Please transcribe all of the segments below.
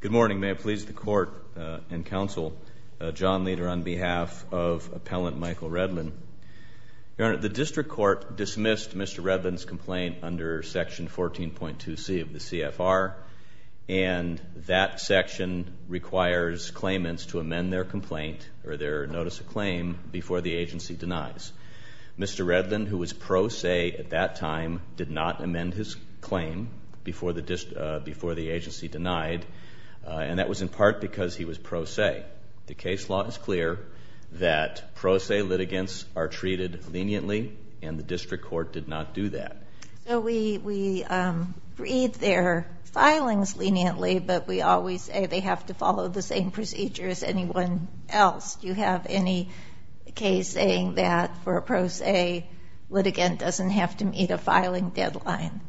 Good morning. May it please the court and counsel, John Leder on behalf of appellant Michael Redlin. Your Honor, the district court dismissed Mr. Redlin's complaint under section 14.2c of the CFR, and that section requires claimants to amend their complaint or their notice of claim before the agency denies. Mr. Redlin, who was pro se at that time, did not amend his claim before the agency denied, and that was in part because he was pro se. The case law is clear that pro se litigants are treated leniently, and the district court did not do that. So we read their filings leniently, but we always say they have to follow the same procedure as anyone else. Do you have any case saying that for a pro se litigant doesn't have to meet a filing deadline?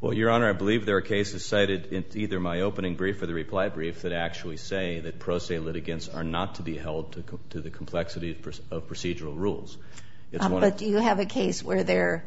Well, Your Honor, I believe there are cases cited in either my opening brief or the reply brief that actually say that pro se litigants are not to be held to the complexity of procedural rules. But do you have a case where they're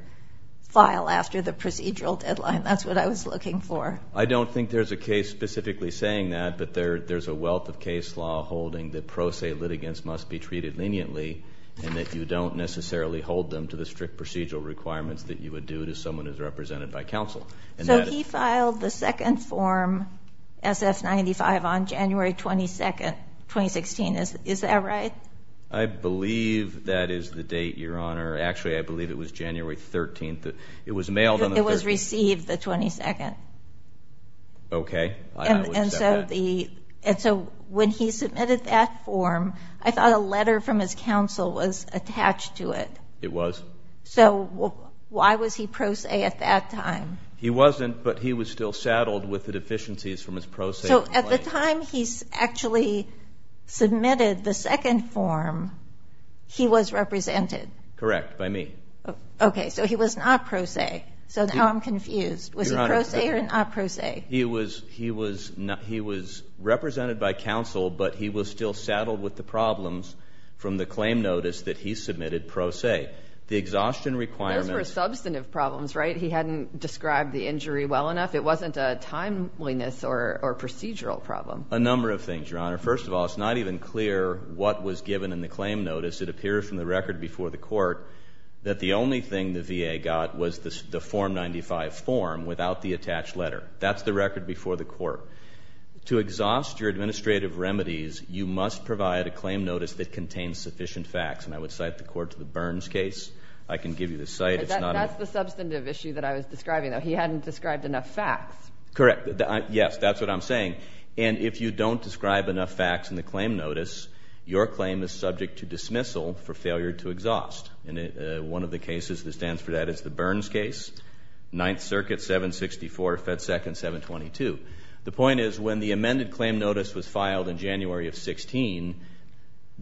filed after the procedural deadline? That's what I was looking for. I don't think there's a case specifically saying that, but there's a wealth of case law holding that pro se litigants must be treated leniently, and that you don't necessarily hold them to the strict procedural requirements that you would do to someone who's represented by counsel. So he filed the second form, SF-95, on January 22nd, 2016. Is that right? I believe that is the date, Your Honor. Actually, I believe it was January 13th. It was mailed on the 13th. It was received the 22nd. Okay. So when he submitted that form, I thought a letter from his counsel was attached to it. It was. So why was he pro se at that time? He wasn't, but he was still saddled with the deficiencies from his pro se. So at the time he actually submitted the second form, he was represented? Correct, by me. Okay. So he was not pro se. So now I'm confused. Was he pro se or not pro se? He was represented by counsel, but he was still saddled with the problems from the claim notice that he submitted pro se. The exhaustion requirements. Those were substantive problems, right? He hadn't described the injury well enough. It wasn't a timeliness or procedural problem. A number of things, Your Honor. First of all, it's not even clear what was given in the claim notice. It appears from the record before the court that the only thing the VA got was the Form 95 form without the attached letter. That's the record before the court. To exhaust your administrative remedies, you must provide a claim notice that contains sufficient facts. And I would cite the court to the Burns case. I can give you the site. It's not. That's the substantive issue that I was describing, though. He hadn't described enough facts. Correct. Yes, that's what I'm saying. And if you don't describe enough facts in the claim notice, your claim is subject to dismissal for failure to exhaust. And one of the cases that stands for that is the Burns case, Ninth Circuit 764, Fed Second 722. The point is, when the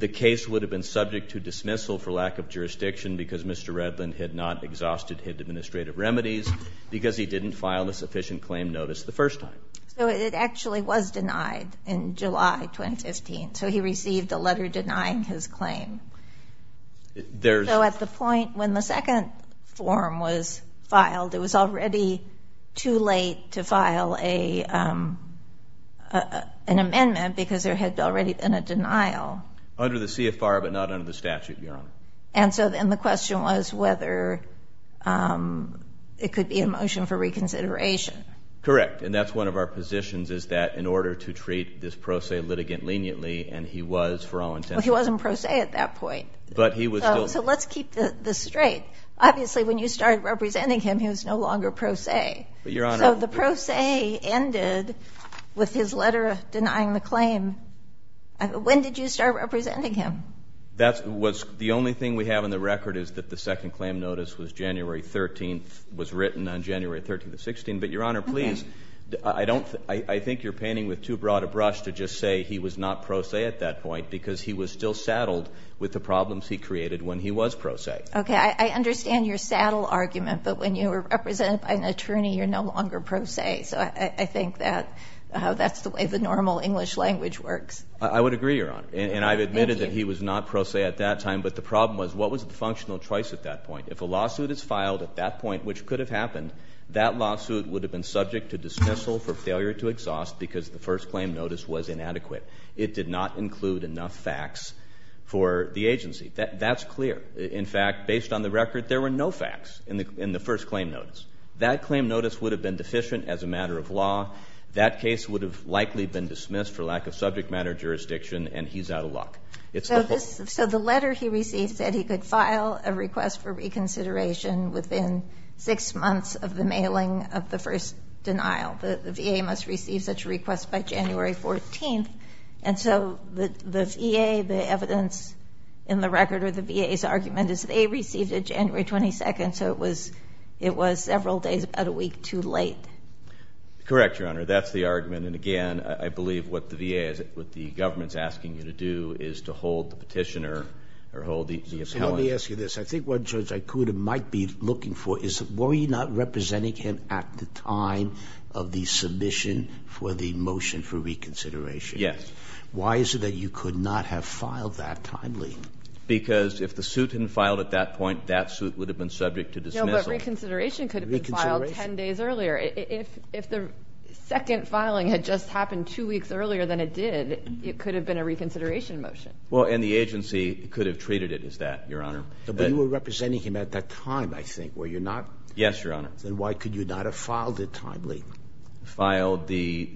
case would have been subject to dismissal for lack of jurisdiction because Mr. Redland had not exhausted his administrative remedies because he didn't file a sufficient claim notice the first time. So it actually was denied in July 2015. So he received a letter denying his claim. So at the point when the second form was filed, it was already too late to file an amendment because there had already been a denial. Under the CFR, but not under the statute, Your Honor. And so then the question was whether it could be a motion for reconsideration. Correct. And that's one of our positions, is that in order to treat this pro se litigant leniently, and he was for all intents... Well, he wasn't pro se at that point. But he was still... So let's keep this straight. Obviously, when you started representing him, he was no longer pro se. But Your Honor, the letter denying the claim, when did you start representing him? That was the only thing we have in the record, is that the second claim notice was January 13th, was written on January 13th of 16. But Your Honor, please, I think you're painting with too broad a brush to just say he was not pro se at that point, because he was still saddled with the problems he created when he was pro se. Okay, I understand your saddle argument, but when you were represented by an attorney, you're no longer pro se. So I think that's the way the normal English language works. I would agree, Your Honor. And I've admitted that he was not pro se at that time. But the problem was, what was the functional choice at that point? If a lawsuit is filed at that point, which could have happened, that lawsuit would have been subject to dismissal for failure to exhaust, because the first claim notice was inadequate. It did not include enough facts for the agency. That's clear. In fact, based on the record, there were no facts in the first claim notice. That claim notice would have been deficient as a matter of law. That case would have likely been dismissed for lack of subject matter jurisdiction, and he's out of luck. It's the whole. So the letter he received said he could file a request for reconsideration within six months of the mailing of the first denial. The VA must receive such a request by January 14th. And so the VA, the evidence in the record or the VA's argument is they received it January 22nd. So it was several days, about a week too late. Correct, Your Honor. That's the argument. And again, I believe what the VA, what the government's asking you to do is to hold the petitioner or hold the appellant. So let me ask you this. I think what Judge Ikuda might be looking for is, were you not representing him at the time of the submission for the motion for reconsideration? Yes. Why is it that you could not have filed that timely? Because if the suit hadn't filed at that point, that suit would have been subject to dismissal. No, but reconsideration could have been filed 10 days earlier. If the second filing had just happened two weeks earlier than it did, it could have been a reconsideration motion. Well, and the agency could have treated it as that, Your Honor. But you were representing him at that time, I think, were you not? Yes, Your Honor. Then why could you not have filed it timely? Filed the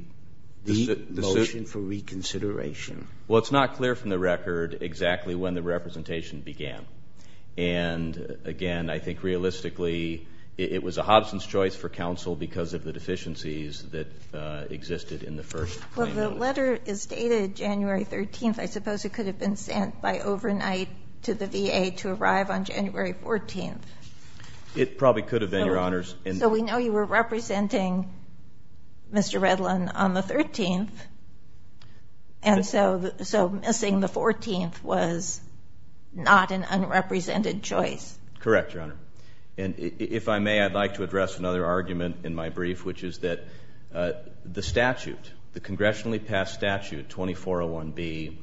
motion for reconsideration. Well, it's not clear from the record exactly when the representation began. And again, I think realistically, it was a Hobson's choice for counsel because of the deficiencies that existed in the first. Well, the letter is stated January 13th. I suppose it could have been sent by overnight to the VA to arrive on January 14th. It probably could have been, Your Honors. So we know you were representing Mr. Redlin on the 13th. And so missing the 14th was not an unrepresented choice. Correct, Your Honor. And if I may, I'd like to address another argument in my brief, which is that the statute, the congressionally passed statute, 2401B,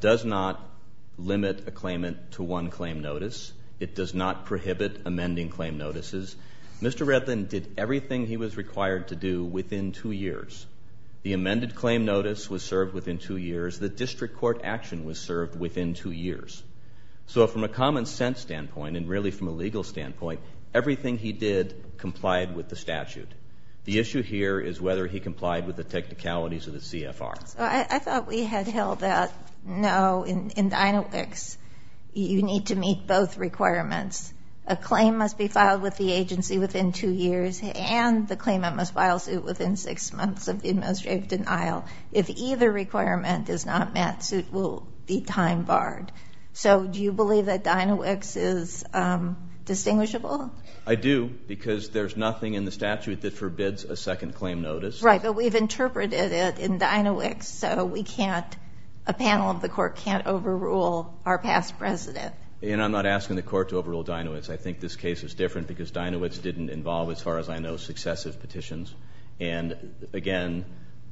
does not limit a claimant to one claim notice. It does not prohibit amending claim notices. Mr. Redlin did everything he was required to do within two years. The amended claim notice was served within two years. The district court action was served within two years. So from a common sense standpoint, and really from a legal standpoint, everything he did complied with the statute. The issue here is whether he complied with the technicalities of the CFR. So I thought we had held that, no, in Dinowix, you need to meet both requirements. A claim must be filed with the agency within two years and the claimant must file suit within six months of administrative denial. If either requirement is not met, suit will be time barred. So do you believe that Dinowix is distinguishable? I do, because there's nothing in the statute that forbids a second claim notice. Right, but we've interpreted it in Dinowix, so we can't, a panel of the court can't overrule our past president. And I'm not asking the court to overrule Dinowix. I think this case is different because Dinowix didn't involve, as far as I know, successive petitions. And again,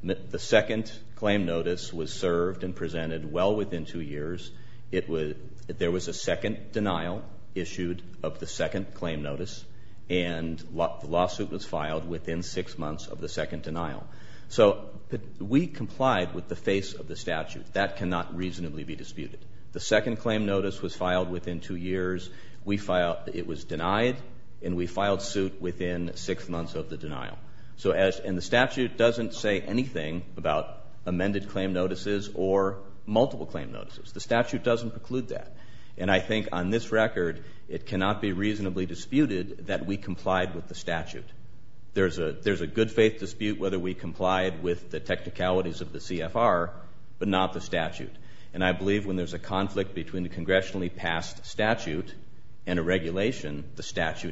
the second claim notice was served and presented well within two years. It was, there was a second denial issued of the second claim notice, and the lawsuit was filed within six months of the second denial. So we complied with the face of the statute. That cannot reasonably be disputed. The second claim notice was filed within two years. We filed, it was denied, and we filed suit within six months of the denial. So as, and the statute doesn't say anything about amended claim notices or multiple claim notices. The statute doesn't preclude that. And I think on this record, it cannot be reasonably disputed that we complied with the statute. There's a, there's a good faith dispute whether we complied with the technicalities of the CFR, but not the statute. And I believe when there's a conflict between the congressionally passed statute and a regulation, the state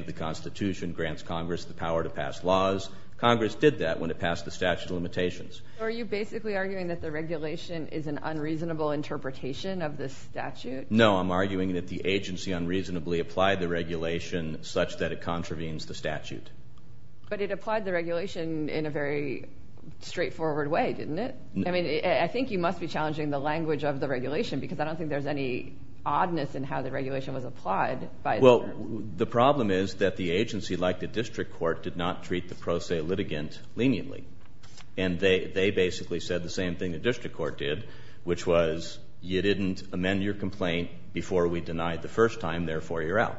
of the constitution grants Congress the power to pass laws. Congress did that when it passed the statute of limitations. Are you basically arguing that the regulation is an unreasonable interpretation of this statute? No, I'm arguing that the agency unreasonably applied the regulation such that it contravenes the statute. But it applied the regulation in a very straightforward way, didn't it? I mean, I think you must be challenging the language of the regulation, because I don't think there's any oddness in how the regulation was passed. The only oddness is that the agency, like the district court, did not treat the pro se litigant leniently. And they, they basically said the same thing the district court did, which was, you didn't amend your complaint before we denied the first time, therefore you're out.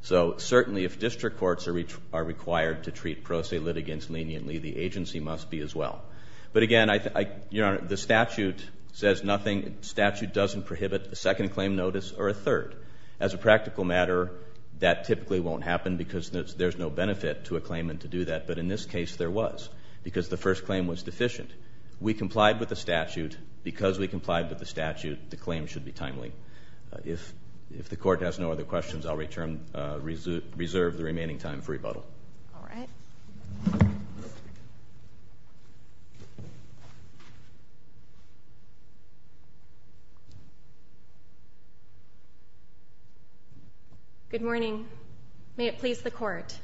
So certainly if district courts are re, are required to treat pro se litigants leniently, the agency must be as well. But again, I, I, Your Honor, the statute says nothing, statute doesn't prohibit a second claim notice or a third. As a practical matter, that typically won't happen because there's no benefit to a claimant to do that. But in this case there was, because the first claim was deficient. We complied with the statute, because we complied with the statute, the claim should be timely. If, if the court has no other questions, I'll return, reserve the remaining time for rebuttal. All right. Good morning. May it please the court.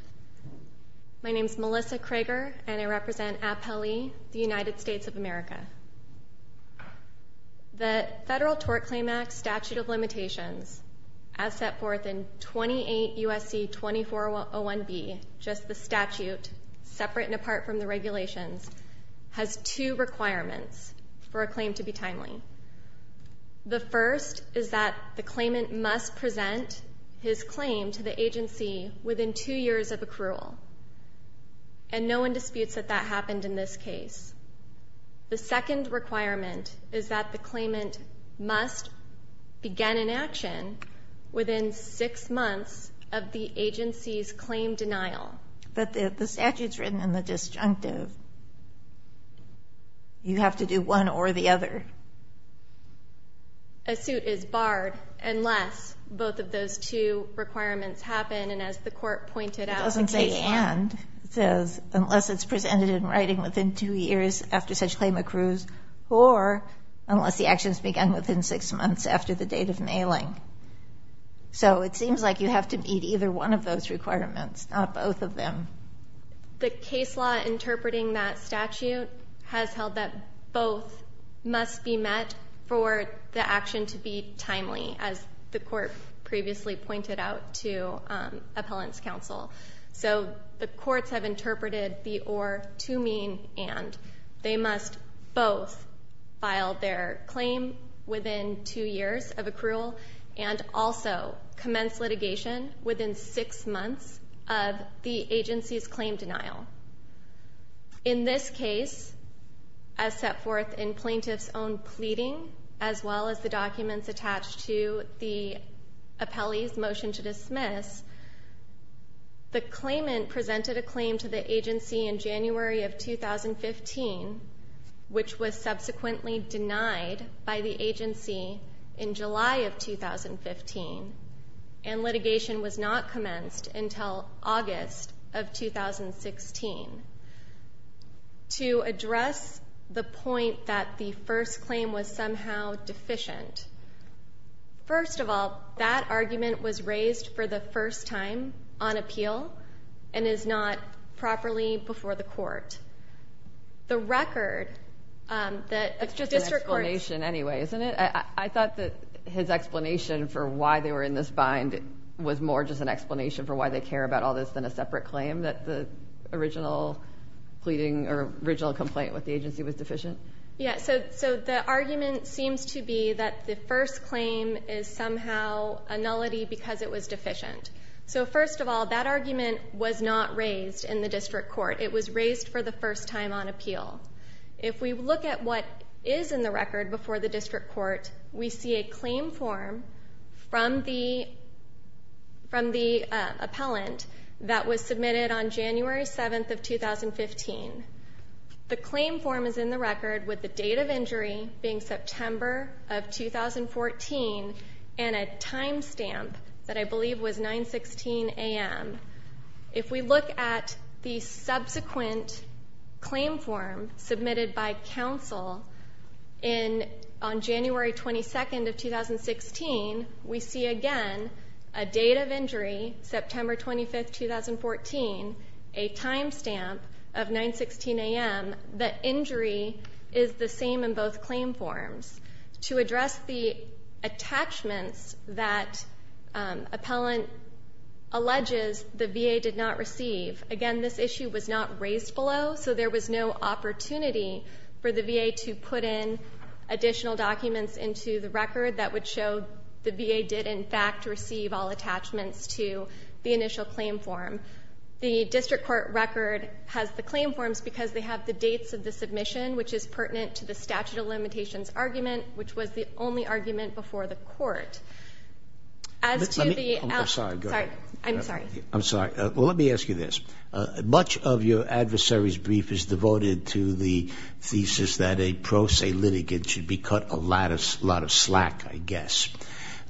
My name's Melissa Krager and I represent APLE, the United States of America. The Federal Tort Claim Act Statute of Limitations, as set forth in 28 USC 2401B, just the statute, separate and apart from the regulations, has two requirements for a claim to be timely. The first is that the claimant must present his claim to the agency within two years of accrual. And no one disputes that that happened in this case. The second requirement is that the claimant must begin an action within six months of the agency's claim denial. But the, the statute's written in the disjunctive. You have to do one or the other. A suit is barred unless both of those two requirements happen, and as the court pointed out. It doesn't say and. It says unless it's presented in writing within two years after such claim accrues, or unless the actions begin within six months after the date of mailing. So it seems like you have to meet either one of those requirements, not both of them. The case law interpreting that statute has held that both must be met for the action to be timely, as the court previously pointed out to appellant's counsel. So the courts have interpreted the or to mean and. They must both file their claim within two years of accrual, and also commence litigation within six months of the In this case, as set forth in plaintiff's own pleading, as well as the documents attached to the appellee's motion to dismiss, the claimant presented a claim to the agency in January of 2015, which was subsequently denied by the agency in to address the point that the first claim was somehow deficient. First of all, that argument was raised for the first time on appeal, and is not properly before the court. The record that a district court... It's just an explanation anyway, isn't it? I thought that his explanation for why they were in this bind was more just an original pleading or original complaint with the agency was deficient. Yeah, so the argument seems to be that the first claim is somehow a nullity because it was deficient. So first of all, that argument was not raised in the district court. It was raised for the first time on appeal. If we look at what is in the record before the district court, we see a claim form from the appellant that was submitted on January 7th of 2015. The claim form is in the record with the date of injury being September of 2014 and a time stamp that I believe was 916 a.m. If we look at the subsequent claim form submitted by counsel on January 22nd of 2016, we see again a date of injury, September 25th, 2014, a time stamp of 916 a.m. The injury is the same in both claim forms. To address the attachments that appellant alleges the VA did not receive, again, this issue was not raised below, so there was no opportunity for the VA to put in additional documents into the record that would receive all attachments to the initial claim form. The district court record has the claim forms because they have the dates of the submission, which is pertinent to the statute of limitations argument, which was the only argument before the court. As to the appellant ---- Sotomayor, I'm sorry. Sotomayor, I'm sorry. Sotomayor, I'm sorry. Well, let me ask you this. Much of your adversary's brief is devoted to the thesis that a pro se litigant should be cut a lot of slack, I guess.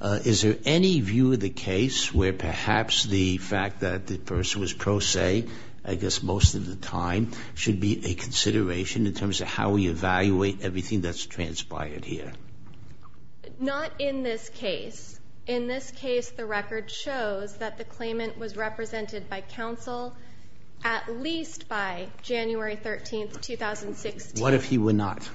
Is there any view of the case where perhaps the fact that the person was pro se, I guess most of the time, should be a consideration in terms of how we evaluate everything that's transpired here? Not in this case. In this case, the record shows that the claimant was represented by counsel at least by January 13th, 2016. What if he were not?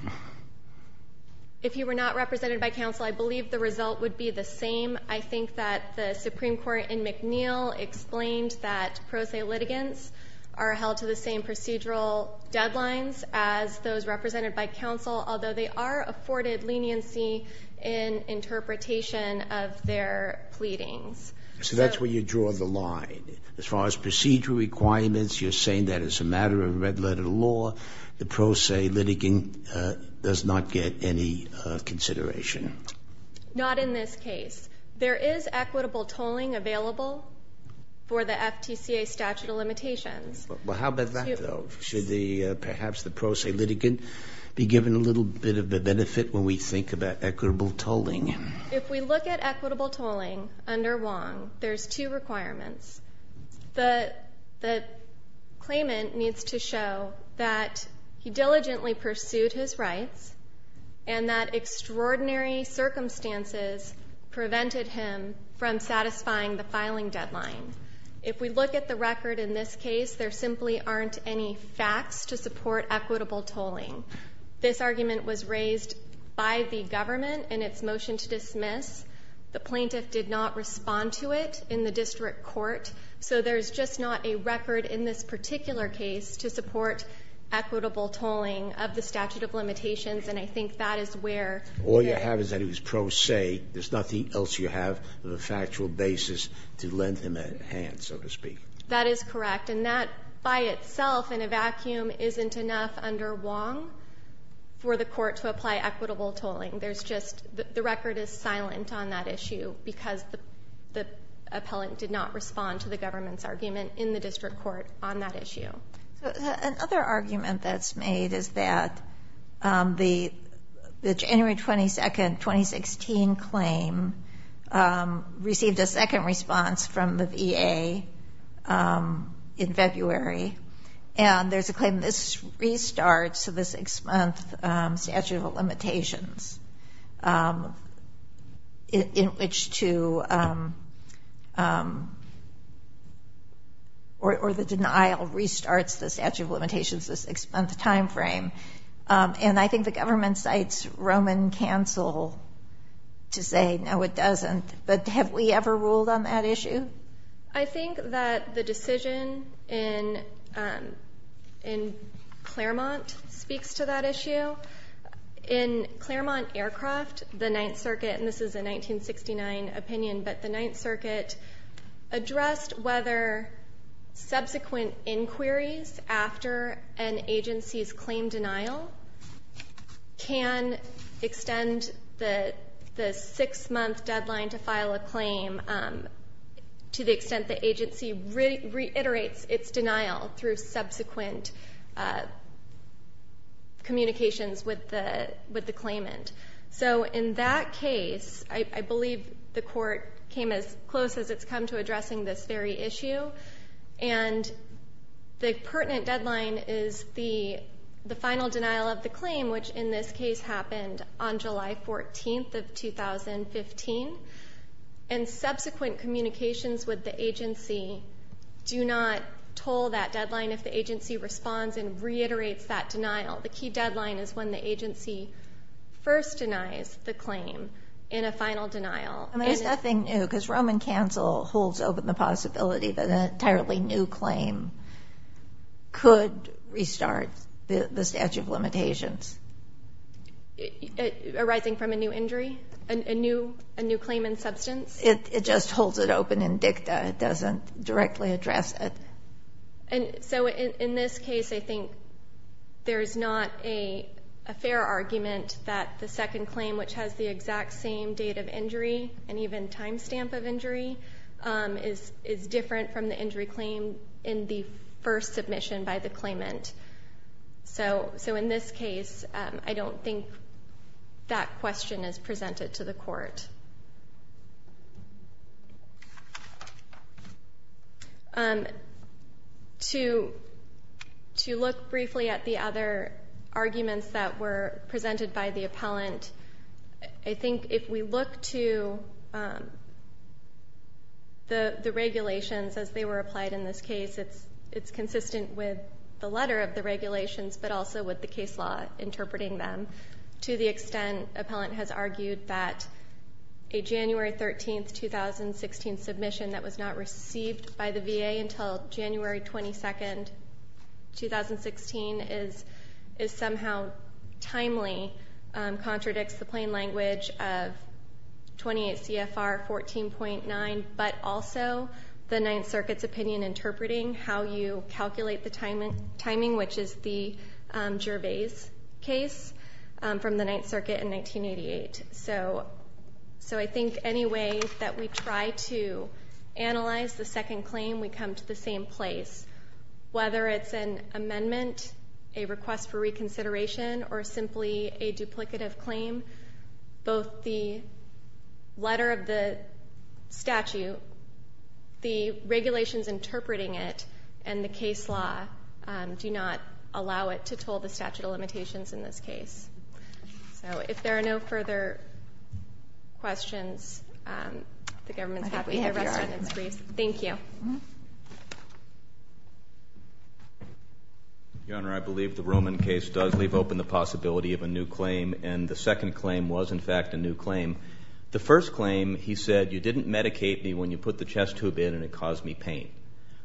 If he were not represented by counsel, I believe the result would be the same. I think that the Supreme Court in McNeil explained that pro se litigants are held to the same procedural deadlines as those represented by counsel, although they are afforded leniency in interpretation of their pleadings. So that's where you draw the line. As far as procedural requirements, you're saying that as a matter of red-letter law, the pro se litigant does not get any consideration. Not in this case. There is equitable tolling available for the FTCA statute of limitations. Well, how about that, though? Should perhaps the pro se litigant be given a little bit of a benefit when we think about equitable tolling? If we look at equitable tolling under Wong, there's two requirements. The claimant needs to show that he diligently pursued his rights and that extraordinary circumstances prevented him from satisfying the filing deadline. If we look at the record in this case, there simply aren't any facts to support equitable tolling. This argument was raised by the government in its motion to dismiss. The plaintiff did not respond to it in the district court. So there's just not a record in this particular case to support equitable tolling of the statute of limitations, and I think that is where they're at. All you have is that he was pro se. There's nothing else you have of a factual basis to lend him a hand, so to speak. That is correct. And that by itself in a vacuum isn't enough under Wong for the court to apply equitable tolling. There's just the record is silent on that issue because the appellant did not respond to the government's argument in the district court on that issue. Another argument that's made is that the January 22, 2016 claim received a second response from the VA in February. And there's a claim this restarts the six-month statute of limitations in which to or the denial restarts the statute of limitations this six-month timeframe. And I think the government cites Roman Cancel to say, no, it doesn't. But have we ever ruled on that issue? I think that the decision in Claremont speaks to that issue. In Claremont Aircraft, the Ninth Circuit, and this is a 1969 opinion, but the Ninth Circuit addressed whether subsequent inquiries after an agency's claim denial can extend the six-month deadline to file a claim to the extent the agency reiterates its denial through subsequent communications with the claimant. So in that case, I believe the court came as close as it's come to addressing this very issue. And the pertinent deadline is the final denial of the claim, which in this case happened on July 14th of 2015. And subsequent communications with the agency do not toll that deadline if the agency responds and reiterates that denial. The key deadline is when the agency first denies the claim in a final denial. There's nothing new because Roman Cancel holds open the possibility that an arising from a new injury, a new claimant substance. It just holds it open in dicta. It doesn't directly address it. So in this case, I think there's not a fair argument that the second claim, which has the exact same date of injury and even time stamp of injury, is different from the injury claim in the first submission by the claimant. So in this case, I don't think that question is presented to the court. To look briefly at the other arguments that were presented by the appellant, I think if we look to the regulations as they were applied in this case, it's consistent with the letter of the regulations, but also with the case law interpreting them. To the extent appellant has argued that a January 13th, 2016 submission that was not received by the VA until January 22nd, 2016 is somehow timely, contradicts the plain language of 28 CFR 14.9, but also the Ninth Circuit's opinion in interpreting how you calculate the timing, which is the Gervais case from the Ninth Circuit in 1988. So I think any way that we try to analyze the second claim, we come to the same place. Whether it's an amendment, a request for reconsideration, or simply a duplicative claim, both the letter of the statute, the regulations interpreting it, and the case law do not allow it to toll the statute of limitations in this case. So if there are no further questions, the government is happy to address them. Thank you. Your Honor, I believe the Roman case does leave open the possibility of a new claim. And the second claim was, in fact, a new claim. The first claim, he said, you didn't medicate me when you put the chest tube in and it caused me pain.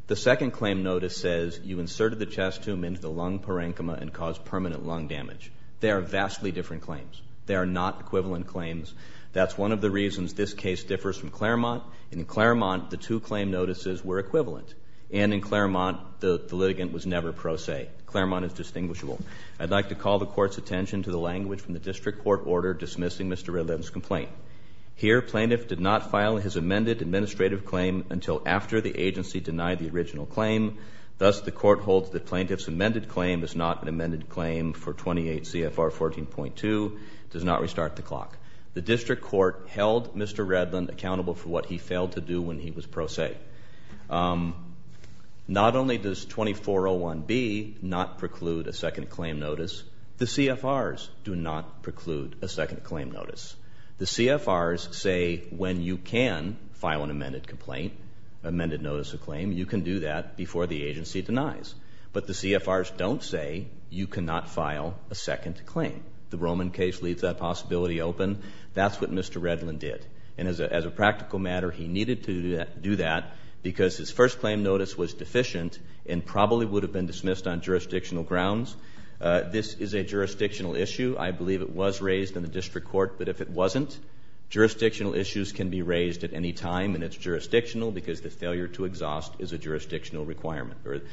The second claim notice says you inserted the chest tube into the lung parenchyma and caused permanent lung damage. They are vastly different claims. They are not equivalent claims. That's one of the reasons this case differs from Claremont. In Claremont, the two claim notices were equivalent. And in Claremont, the litigant was never pro se. Claremont is distinguishable. I'd like to call the Court's attention to the language from the district court order dismissing Mr. Redland's complaint. Here, plaintiff did not file his amended administrative claim until after the agency denied the original claim. Thus, the Court holds that plaintiff's amended claim is not an amended claim for 28 CFR 14.2, does not restart the clock. The district court held Mr. Redland accountable for what he failed to do when he was pro se. All right. Not only does 2401B not preclude a second claim notice, the CFRs do not preclude a second claim notice. The CFRs say when you can file an amended complaint, amended notice of claim, you can do that before the agency denies. But the CFRs don't say you cannot file a second claim. The Roman case leaves that possibility open. That's what Mr. Redland did. And as a practical matter, he needed to do that because his first claim notice was deficient and probably would have been dismissed on jurisdictional grounds. This is a jurisdictional issue. I believe it was raised in the district court. But if it wasn't, jurisdictional issues can be raised at any time and it's jurisdictional because the failure to exhaust is a jurisdictional requirement.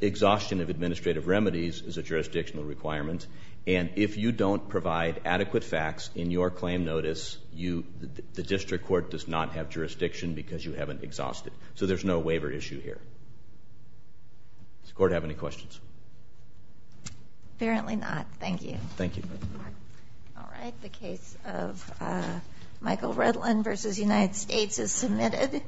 Exhaustion of administrative remedies is a jurisdictional requirement. And if you don't provide adequate facts in your claim notice, the district court does not have jurisdiction because you haven't exhausted. So there's no waiver issue here. Does the court have any questions? Apparently not. Thank you. Thank you. All right. The case of Michael Redland v. United States is submitted.